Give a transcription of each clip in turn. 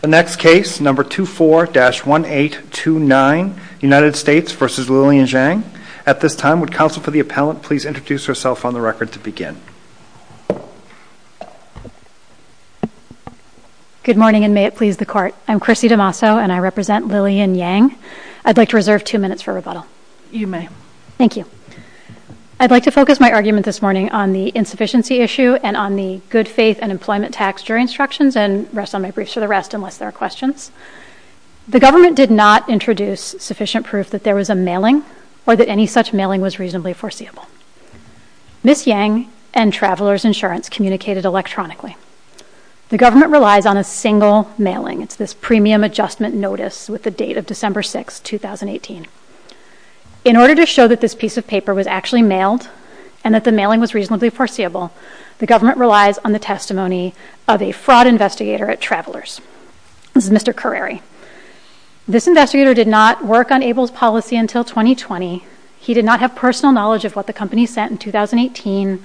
The next case, number 24-1829, United States v. Lillian Giang. At this time, would counsel for the appellant please introduce herself on the record to Good morning and may it please the court. I'm Chrissy DeMasso and I represent Lillian Giang. I'd like to reserve two minutes for rebuttal. You may. Thank you. I'd like to focus my argument this morning on the insufficiency issue and on the good faith and employment tax jury instructions and rest on my briefs for the rest unless there are questions. The government did not introduce sufficient proof that there was a mailing or that any such mailing was reasonably foreseeable. Ms. Giang and Travelers Insurance communicated electronically. The government relies on a single mailing. It's this premium adjustment notice with the date of December 6, 2018. In order to show that this piece of paper was actually mailed and that the mailing was reasonably foreseeable, the government relies on the testimony of a fraud investigator at Travelers. This is Mr. Curreri. This investigator did not work on Abel's policy until 2020. He did not have personal knowledge of what the company sent in 2018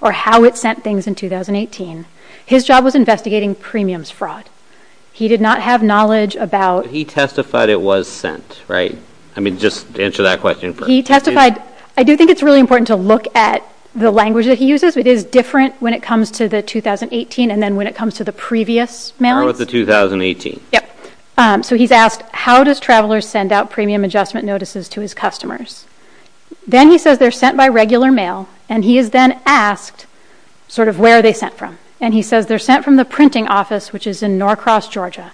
or how it sent things in 2018. His job was investigating premiums fraud. He did not have knowledge about He testified it was sent, right? I mean, just answer that question first. He testified. I do think it's really important to look at the language that he uses. It is different when it comes to the 2018 and then when it comes to the previous mailings. What about the 2018? Yep. So he's asked, how does Travelers send out premium adjustment notices to his customers? Then he says they're sent by regular mail. And he is then asked sort of where are they sent from? And he says they're sent from the printing office, which is in Norcross, Georgia.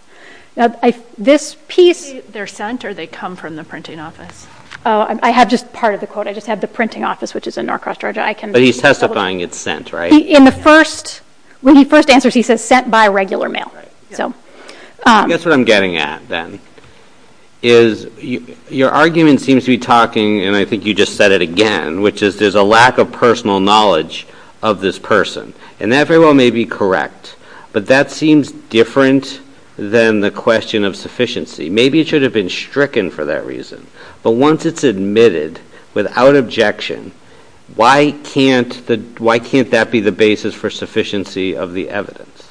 This piece They're sent or they come from the printing office? I have just part of the quote. I just have the printing office, which is in Norcross, Georgia. I can But he's testifying it's sent, right? In the first, when he first answers, he says sent by regular mail. So I guess what I'm getting at then is your argument seems to be talking and I think you just said it again, which is there's a lack of personal knowledge of this person. And that very well may be correct. But that seems different than the question of sufficiency. Maybe it should have been stricken for that reason. But once it's admitted without objection, why can't that be the basis for sufficiency of the evidence?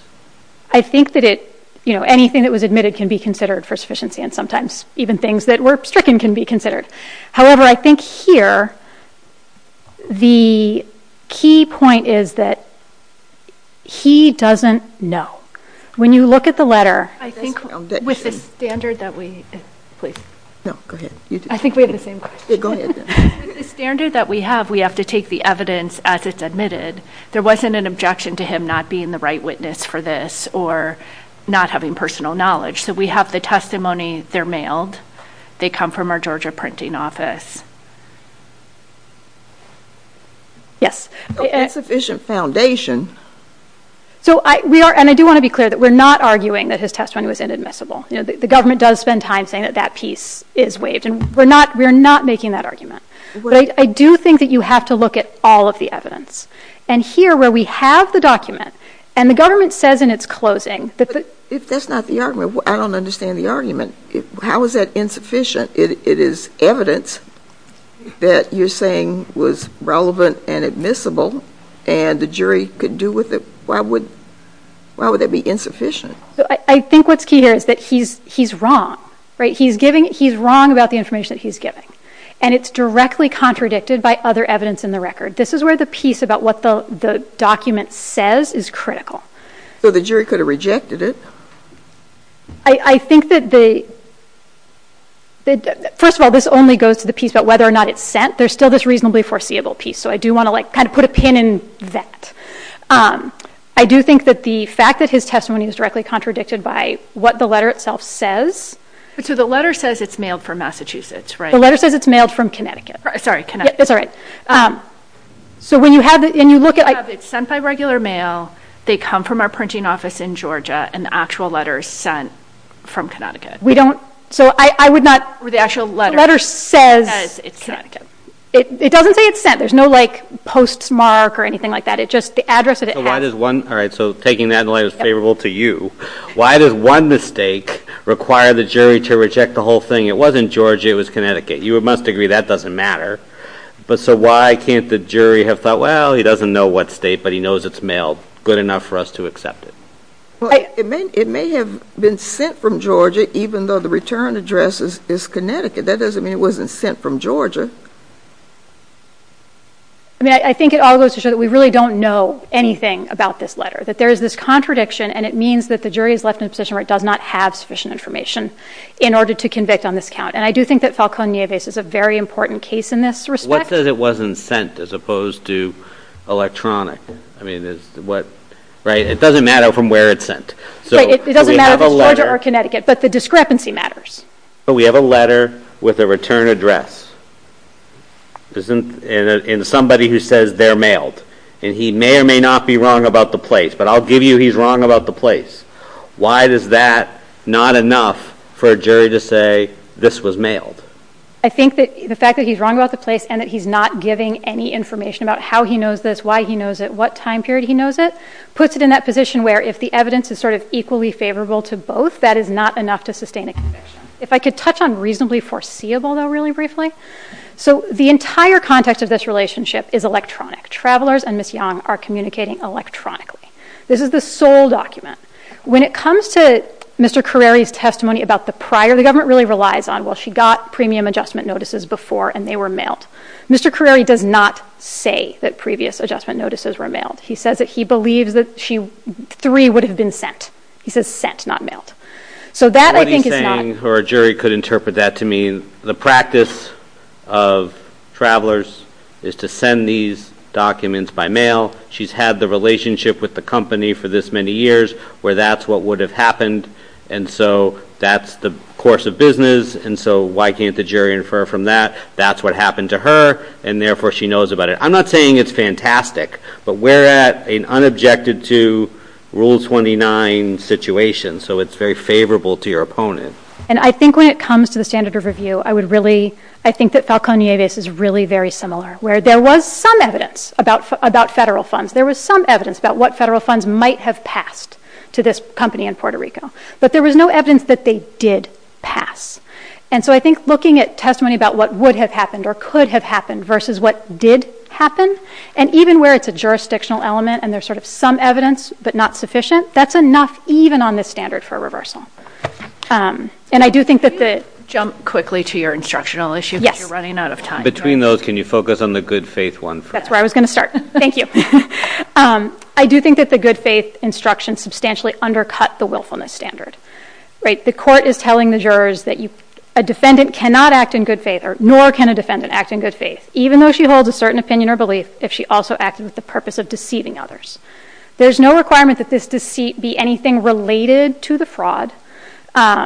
I think that it, you know, anything that was admitted can be considered for sufficiency and sometimes even things that were stricken can be considered. However, I think here the key point is that he doesn't know. When you look at the letter I think with the standard that we have, we have to take the evidence as it's admitted. There wasn't an objection to him not being the right witness for this or not having personal knowledge. So we have the testimony. They're mailed. They come from our Georgia printing office. Yes. It's sufficient foundation. So we are, and I do want to be clear that we're not arguing that his testimony was inadmissible. The government does spend time saying that that piece is waived and we're not making that argument. But I do think that you have to look at all of the evidence. And here where we have the document and the government says in its closing that the But if that's not the argument, I don't understand the argument. How is that insufficient? It is evidence that you're saying was relevant and admissible and the jury could do with it. Why would that be insufficient? I think what's key here is that he's wrong. He's wrong about the information that he's giving. And it's directly contradicted by other evidence in the record. This is where the piece about what the document says is critical. So the jury could have rejected it. I think that the, first of all, this only goes to the piece about whether or not it's sent. There's still this reasonably foreseeable piece. So I do want to like kind of put a pin in that. I do think that the fact that his testimony is directly contradicted by what the letter itself says. But so the letter says it's mailed from Massachusetts, right? The letter says it's mailed from Connecticut. Sorry, Connecticut. That's all right. So when you have it and you look at it, it's sent by regular mail. They come from our printing office in Georgia, and the actual letter is sent from Connecticut. We don't, so I would not, the actual letter says it's sent. It doesn't say it's sent. There's no like postmark or anything like that. It just, the address that it has. So why does one, all right, so taking that in light is favorable to you. Why does one mistake require the jury to reject the whole thing? It wasn't Georgia. It was Connecticut. You must agree that doesn't matter. But so why can't the jury have thought, well, he doesn't know what state, but he knows it's good enough for us to accept it. It may have been sent from Georgia, even though the return address is Connecticut. That doesn't mean it wasn't sent from Georgia. I mean, I think it all goes to show that we really don't know anything about this letter, that there is this contradiction, and it means that the jury is left in a position where it does not have sufficient information in order to convict on this count. And I do think that Falcone-Nieves is a very important case in this respect. What says it wasn't sent as opposed to electronic? I mean, it doesn't matter from where it's sent. It doesn't matter if it's Georgia or Connecticut, but the discrepancy matters. But we have a letter with a return address, and somebody who says they're mailed. And he may or may not be wrong about the place, but I'll give you he's wrong about the place. Why is that not enough for a jury to say this was mailed? I think that the fact that he's wrong about the place and that he's not giving any information about how he knows this, why he knows it, what time period he knows it, puts it in that position where if the evidence is sort of equally favorable to both, that is not enough to sustain a conviction. If I could touch on reasonably foreseeable, though, really briefly. So the entire context of this relationship is electronic. Travelers and Ms. Young are communicating electronically. This is the sole document. When it comes to Mr. Carreri's testimony about the prior, the government really relies on, well, she got premium adjustment notices before, and they were mailed. Mr. Carreri does not say that previous adjustment notices were mailed. He says that he believes that three would have been sent. He says sent, not mailed. So that I think is not- What he's saying, or a jury could interpret that to mean the practice of travelers is to send these documents by mail. She's had the relationship with the company for this many years where that's what would have happened. And so that's the course of business, and so why can't the jury infer from that? That's what happened to her, and therefore she knows about it. I'm not saying it's fantastic, but we're at an unobjected to Rule 29 situation, so it's very favorable to your opponent. And I think when it comes to the standard of review, I would really, I think that Falcon Nieves is really very similar, where there was some evidence about federal funds. There was some evidence about what federal funds might have passed to this company in Puerto Rico. But there was no evidence that they did pass. And so I think looking at testimony about what would have happened or could have happened versus what did happen, and even where it's a jurisdictional element and there's sort of some evidence, but not sufficient, that's enough even on this standard for a reversal. And I do think that the- Can I jump quickly to your instructional issue? Yes. Because you're running out of time. Between those, can you focus on the good faith one first? That's where I was going to start. Thank you. I do think that the good faith instruction substantially undercut the willfulness standard. The court is telling the jurors that a defendant cannot act in good faith, nor can a defendant act in good faith, even though she holds a certain opinion or belief, if she also acted with the purpose of deceiving others. There's no requirement that this deceit be anything related to the fraud. And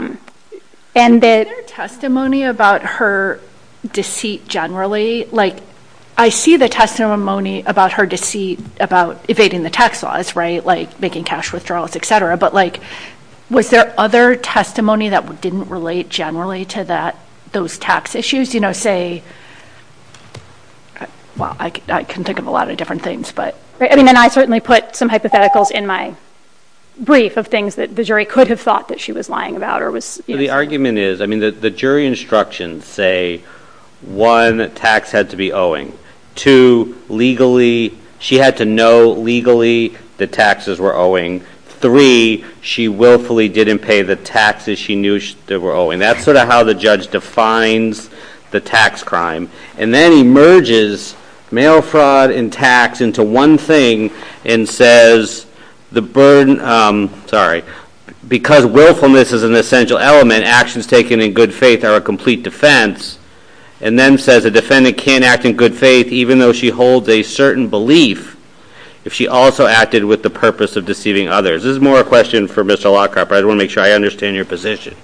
that- Is there testimony about her deceit generally? I see the testimony about her deceit about evading the tax laws, right? Like making cash withdrawals, et cetera. But was there other testimony that didn't relate generally to those tax issues? Say, well, I can think of a lot of different things, but- I mean, and I certainly put some hypotheticals in my brief of things that the jury could have thought that she was lying about or was- The argument is, I mean, the jury instructions say, one, tax had to be owing, two, legally, she had to know legally the taxes were owing, three, she willfully didn't pay the taxes she knew they were owing. That's sort of how the judge defines the tax crime. And then he merges mail fraud and tax into one thing and says, the burden, sorry, because willfulness is an essential element, actions taken in good faith are a complete defense. And then says, a defendant can't act in good faith even though she holds a certain belief if she also acted with the purpose of deceiving others. This is more a question for Mr. Lockhart, but I want to make sure I understand your position.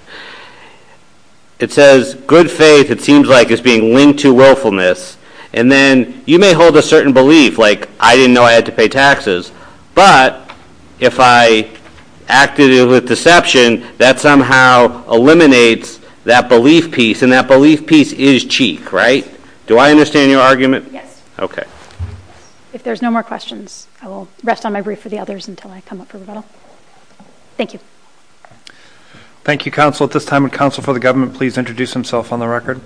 It says, good faith, it seems like it's being linked to willfulness. And then you may hold a certain belief, like I didn't know I had to pay taxes, but if I acted with deception, that somehow eliminates that belief piece. And that belief piece is cheek, right? Do I understand your argument? Yes. OK. If there's no more questions, I will rest on my brief for the others until I come up for rebuttal. Thank you. Thank you, counsel. At this time, would counsel for the government please introduce himself on the record?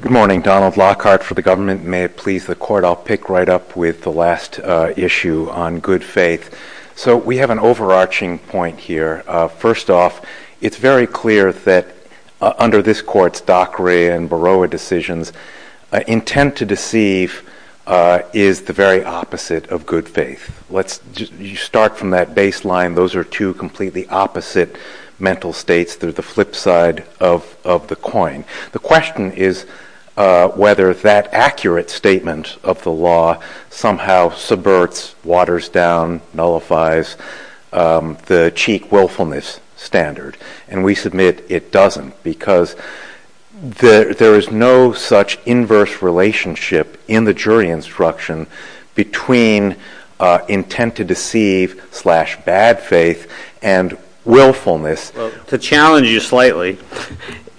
Good morning. Donald Lockhart for the government. May it please the court, I'll pick right up with the last issue on good faith. So we have an overarching point here. First off, it's very clear that under this court's Dockery and Baroah decisions, intent to deceive is the very opposite of good faith. You start from that baseline. Those are two completely opposite mental states. They're the flip side of the coin. The question is whether that accurate statement of the law somehow subverts, waters down, nullifies the cheek willfulness standard. And we submit it doesn't because there is no such inverse relationship in the jury instruction between intent to deceive slash bad faith and willfulness. To challenge you slightly,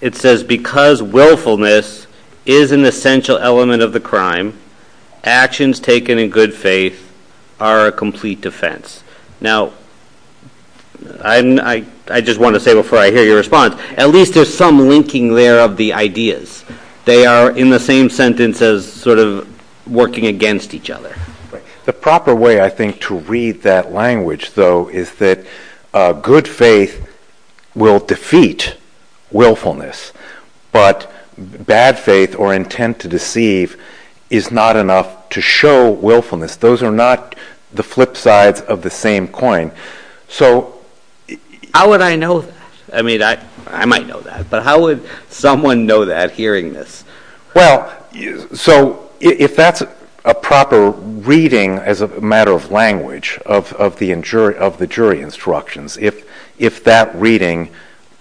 it says because willfulness is an essential element of the defense. Now, I just want to say before I hear your response, at least there's some linking there of the ideas. They are in the same sentence as sort of working against each other. The proper way, I think, to read that language, though, is that good faith will defeat willfulness, but bad faith or intent to deceive is not enough to show willfulness. Those are not the flip sides of the same coin. So how would I know that? I mean, I might know that, but how would someone know that hearing this? Well, so if that's a proper reading as a matter of language of the jury instructions, if that reading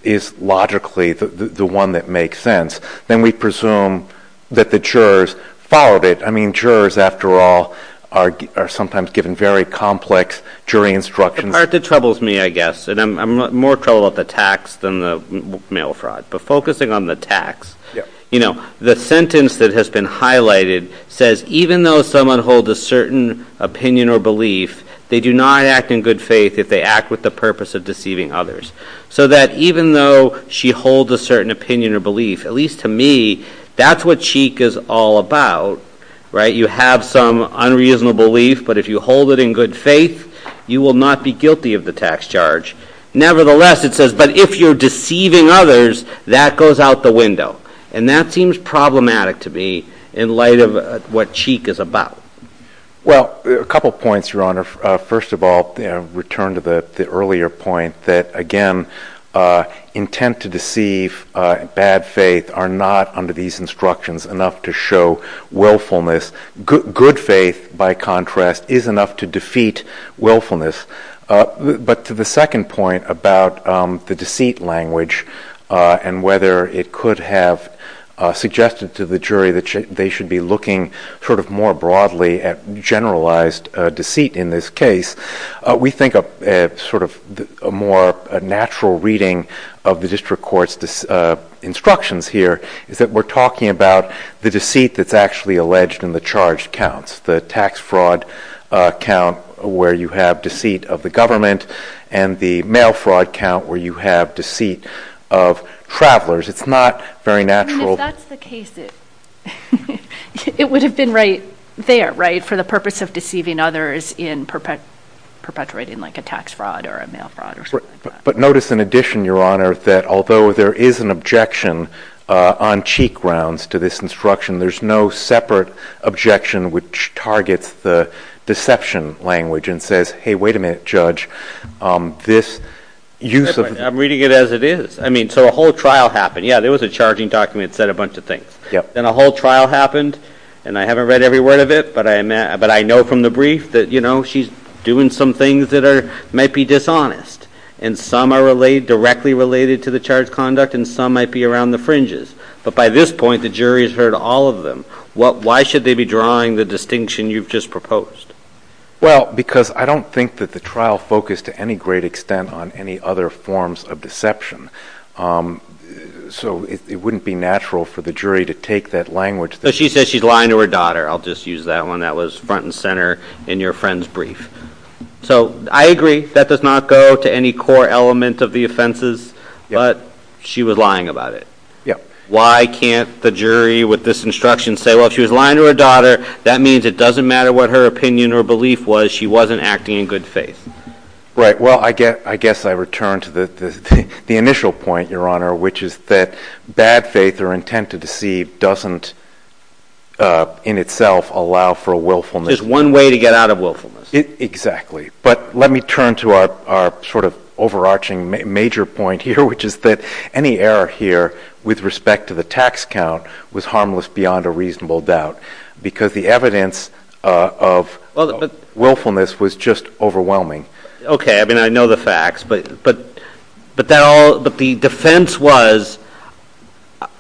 is logically the one that makes sense, then we presume that the jurors followed it. I mean, jurors, after all, are sometimes given very complex jury instructions. The part that troubles me, I guess, and I'm more troubled about the tax than the mail fraud, but focusing on the tax, the sentence that has been highlighted says, even though someone holds a certain opinion or belief, they do not act in good faith if they act with the purpose of deceiving others. So that even though she holds a certain opinion or belief, at least to me, that's what Cheek is all about, right? You have some unreasonable belief, but if you hold it in good faith, you will not be guilty of the tax charge. Nevertheless, it says, but if you're deceiving others, that goes out the window. And that seems problematic to me in light of what Cheek is about. Well, a couple of points, Your Honor. First of all, return to the earlier point that, again, intent to deceive, bad faith are not, under these instructions, enough to show willfulness. Good faith, by contrast, is enough to defeat willfulness. But to the second point about the deceit language and whether it could have suggested to the jury that they should be looking sort of more broadly at generalized deceit in this case, we think a more natural reading of the district court's instructions here is that we're talking about the deceit that's actually alleged in the charged counts, the tax fraud count where you have deceit of the government and the mail fraud count where you have deceit of It's not very natural. If that's the case, it would have been right there, right, for the purpose of deceiving others in perpetuating like a tax fraud or a mail fraud or something like that. But notice in addition, Your Honor, that although there is an objection on Cheek grounds to this instruction, there's no separate objection which targets the deception language and says, hey, wait a minute, Judge, this use of I'm reading it as it is. I mean, so a whole trial happened. Yeah, there was a charging document that said a bunch of things. Then a whole trial happened and I haven't read every word of it. But I know from the brief that, you know, she's doing some things that are might be dishonest and some are directly related to the charge conduct and some might be around the fringes. But by this point, the jury has heard all of them. Why should they be drawing the distinction you've just proposed? Well, because I don't think that the trial focused to any great extent on any other forms of deception. So it wouldn't be natural for the jury to take that language. So she says she's lying to her daughter. I'll just use that one that was front and center in your friend's brief. So I agree that does not go to any core element of the offenses, but she was lying about it. Yeah. Why can't the jury with this instruction say, well, she was lying to her daughter. That means it doesn't matter what her opinion or belief was. She wasn't acting in good faith. Right. Well, I guess I return to the initial point, Your Honor, which is that bad faith or intent to deceive doesn't in itself allow for a willfulness. There's one way to get out of willfulness. Exactly. But let me turn to our sort of overarching major point here, which is that any error here with respect to the tax count was harmless beyond a reasonable doubt because the evidence of willfulness was just overwhelming. Okay. I mean, I know the facts, but the defense was,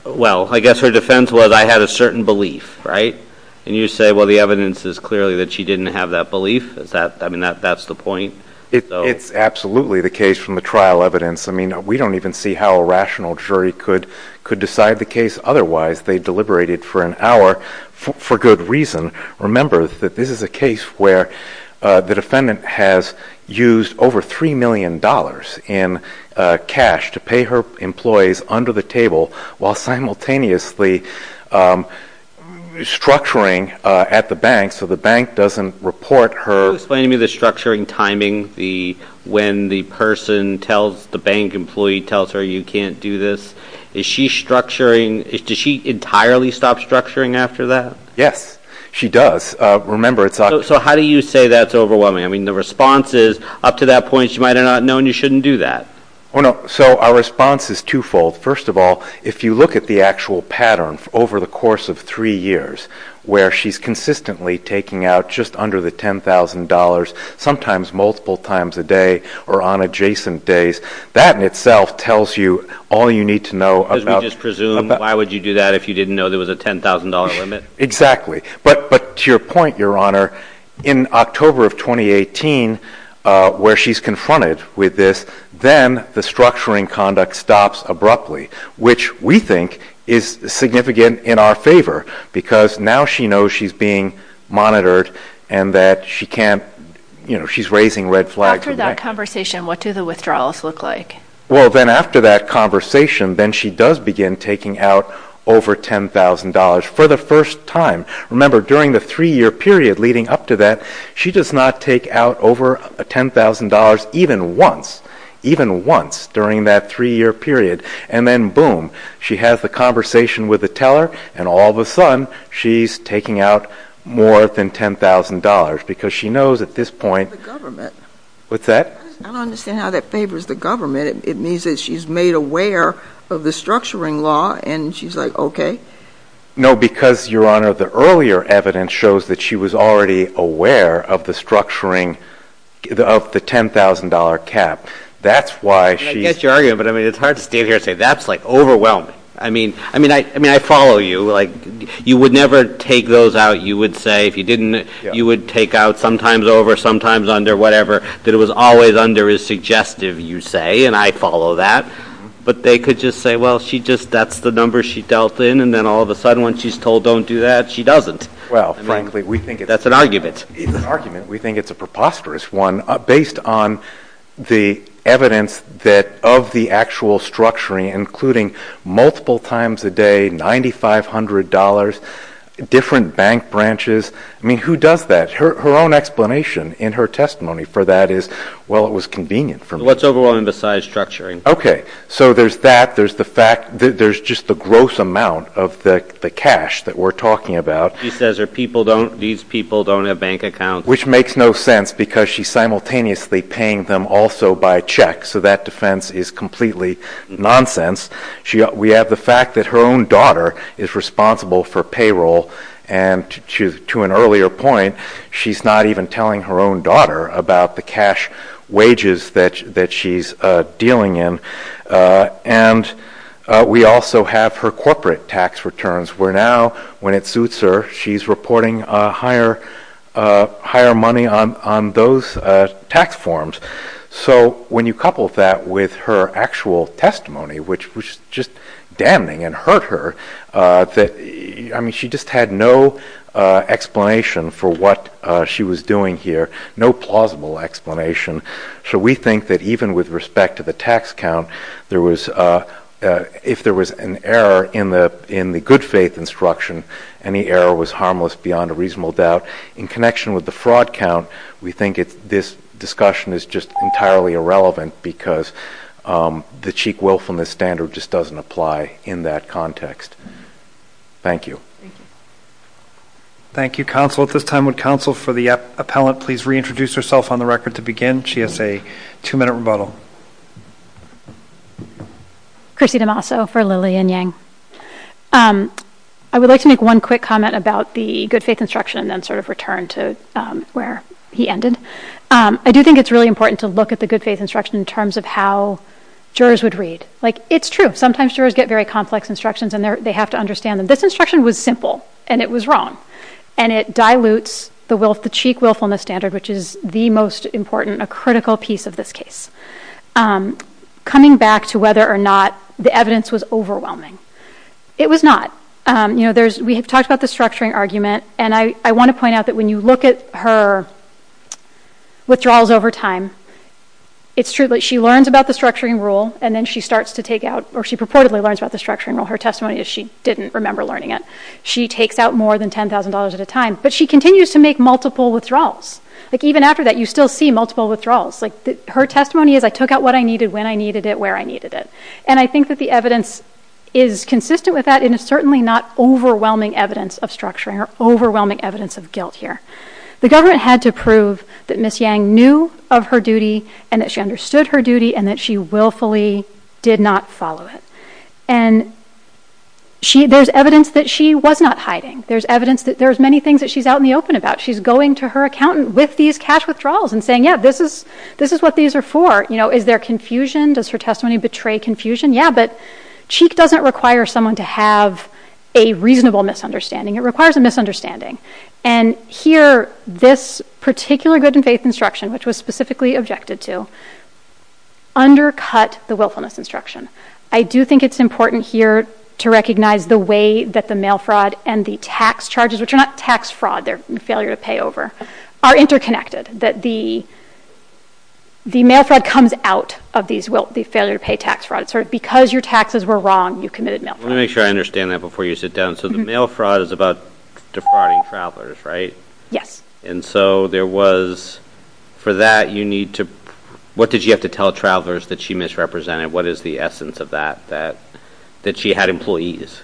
well, I guess her defense was, I had a certain belief. Right. And you say, well, the evidence is clearly that she didn't have that belief. I mean, that's the point. It's absolutely the case from the trial evidence. I mean, we don't even see how a rational jury could decide the case. Otherwise, they deliberated for an hour for good reason. Remember that this is a case where the defendant has used over three million dollars in cash to pay her employees under the table while simultaneously structuring at the bank. So the bank doesn't report her. Can you explain to me the structuring timing, the when the person tells the bank employee tells her you can't do this? Is she structuring? Does she entirely stop structuring after that? Yes, she does. Remember, it's... So how do you say that's overwhelming? I mean, the response is up to that point, she might have not known you shouldn't do that. Oh, no. So our response is twofold. First of all, if you look at the actual pattern over the course of three years where she's consistently taking out just under the $10,000, sometimes multiple times a day or on adjacent days, that in itself tells you all you need to know about... Because we just presume why would you do that if you didn't know there was a $10,000 limit? Exactly. But to your point, Your Honor, in October of 2018, where she's confronted with this, then the structuring conduct stops abruptly, which we think is significant in our favor because now she knows she's being monitored and that she can't, you know, she's raising red flags. After that conversation, what do the withdrawals look like? Well, then after that conversation, then she does begin taking out over $10,000 for the first time. Remember, during the three-year period leading up to that, she does not take out over $10,000 even once, even once during that three-year period. And then boom, she has the conversation with the teller and all of a sudden she's taking out more than $10,000 because she knows at this point... What's that? I don't understand how that favors the government. It means that she's made aware of the structuring law and she's like, okay. No, because, Your Honor, the earlier evidence shows that she was already aware of the structuring of the $10,000 cap. That's why she... I get your argument, but I mean, it's hard to stand here and say that's like overwhelming. I mean, I follow you. Like, you would never take those out. You would say if you didn't, you would take out sometimes over, sometimes under, whatever, that it was always under is suggestive, you say, and I follow that. But they could just say, well, she just, that's the number she dealt in. And then all of a sudden when she's told don't do that, she doesn't. Well, frankly, we think... That's an argument. It's an argument. We think it's a preposterous one based on the evidence that of the actual structuring, including multiple times a day, $9,500, different bank branches. I mean, who does that? Her own explanation in her testimony for that is, well, it was convenient for me. What's overwhelming besides structuring? Okay. So there's that. There's the fact that there's just the gross amount of the cash that we're talking about. She says her people don't, these people don't have bank accounts. Which makes no sense because she's simultaneously paying them also by check. So that defense is completely nonsense. We have the fact that her own daughter is responsible for payroll. And to an earlier point, she's not even telling her own daughter about the cash wages that she's dealing in. And we also have her corporate tax returns. We're now, when it suits her, she's reporting higher money on those tax forms. So when you couple that with her actual testimony, which was just damning and hurt her, I mean, she just had no explanation for what she was doing here. No plausible explanation. So we think that even with respect to the tax count, if there was an error in the good faith instruction, any error was harmless beyond a reasonable doubt. In connection with the fraud count, we think this discussion is just entirely irrelevant because the cheek willfulness standard just doesn't apply in that context. Thank you. Thank you, counsel. At this time, would counsel for the appellant please reintroduce herself on the record to begin? She has a two-minute rebuttal. Chrissy D'Amaso for Lilly and Yang. I would like to make one quick comment about the good faith instruction and then sort of return to where he ended. I do think it's really important to look at the good faith instruction in terms of how jurors would read. Like, it's true. Sometimes jurors get very complex instructions, and they have to understand them. This instruction was simple, and it was wrong. And it dilutes the cheek willfulness standard, which is the most important, a critical piece of this case. Coming back to whether or not the evidence was overwhelming, it was not. We have talked about the structuring argument. And I want to point out that when you look at her withdrawals over time, it's true that she learns about the structuring rule, and then she starts to take out, or she purportedly learns about the structuring rule. Her testimony is she didn't remember learning it. She takes out more than $10,000 at a time. But she continues to make multiple withdrawals. Like, even after that, you still see multiple withdrawals. Like, her testimony is, I took out what I needed, when I needed it, where I needed it. And I think that the evidence is consistent with that. It's certainly not overwhelming evidence of structuring or overwhelming evidence of guilt here. The government had to prove that Ms. Yang knew of her duty, and that she understood her duty, and that she willfully did not follow it. And there's evidence that she was not hiding. There's evidence that there's many things that she's out in the open about. She's going to her accountant with these cash withdrawals and saying, yeah, this is what these are for. Is there confusion? Does her testimony betray confusion? Yeah, but Cheek doesn't require someone to have a reasonable misunderstanding. It requires a misunderstanding. And here, this particular good and faith instruction, which was specifically objected to, undercut the willfulness instruction. I do think it's important here to recognize the way that the mail fraud and the tax charges, which are not tax fraud, they're failure to pay over, are interconnected. That the mail fraud comes out of the failure to pay tax fraud. Because your taxes were wrong, you committed mail fraud. Let me make sure I understand that before you sit down. So the mail fraud is about defrauding travelers, right? Yes. And so there was, for that, you need to, what did you have to tell travelers that she misrepresented? What is the essence of that, that she had employees?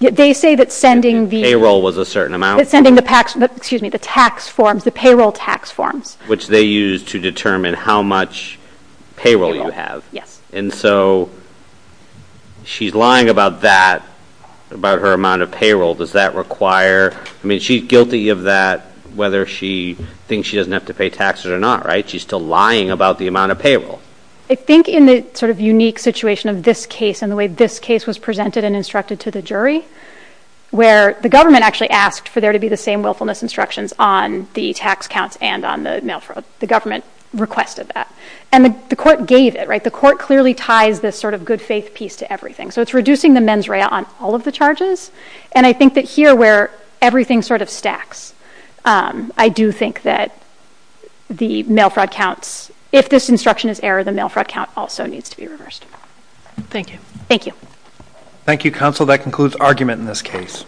They say that sending the- Payroll was a certain amount. Sending the tax forms, the payroll tax forms. Which they use to determine how much payroll you have. Yes. And so she's lying about that, about her amount of payroll. Does that require, I mean, she's guilty of that, whether she thinks she doesn't have to pay taxes or not, right? She's still lying about the amount of payroll. I think in the sort of unique situation of this case and the way this case was presented and instructed to the jury, where the government actually asked for there to be the same willfulness instructions on the tax counts and on the mail fraud. The government requested that. And the court gave it, right? The court clearly ties this sort of good faith piece to everything. So it's reducing the mens rea on all of the charges. And I think that here, where everything sort of stacks, I do think that the mail fraud counts, if this instruction is error, the mail fraud count also needs to be reversed. Thank you. Thank you. Thank you, counsel. That concludes argument in this case.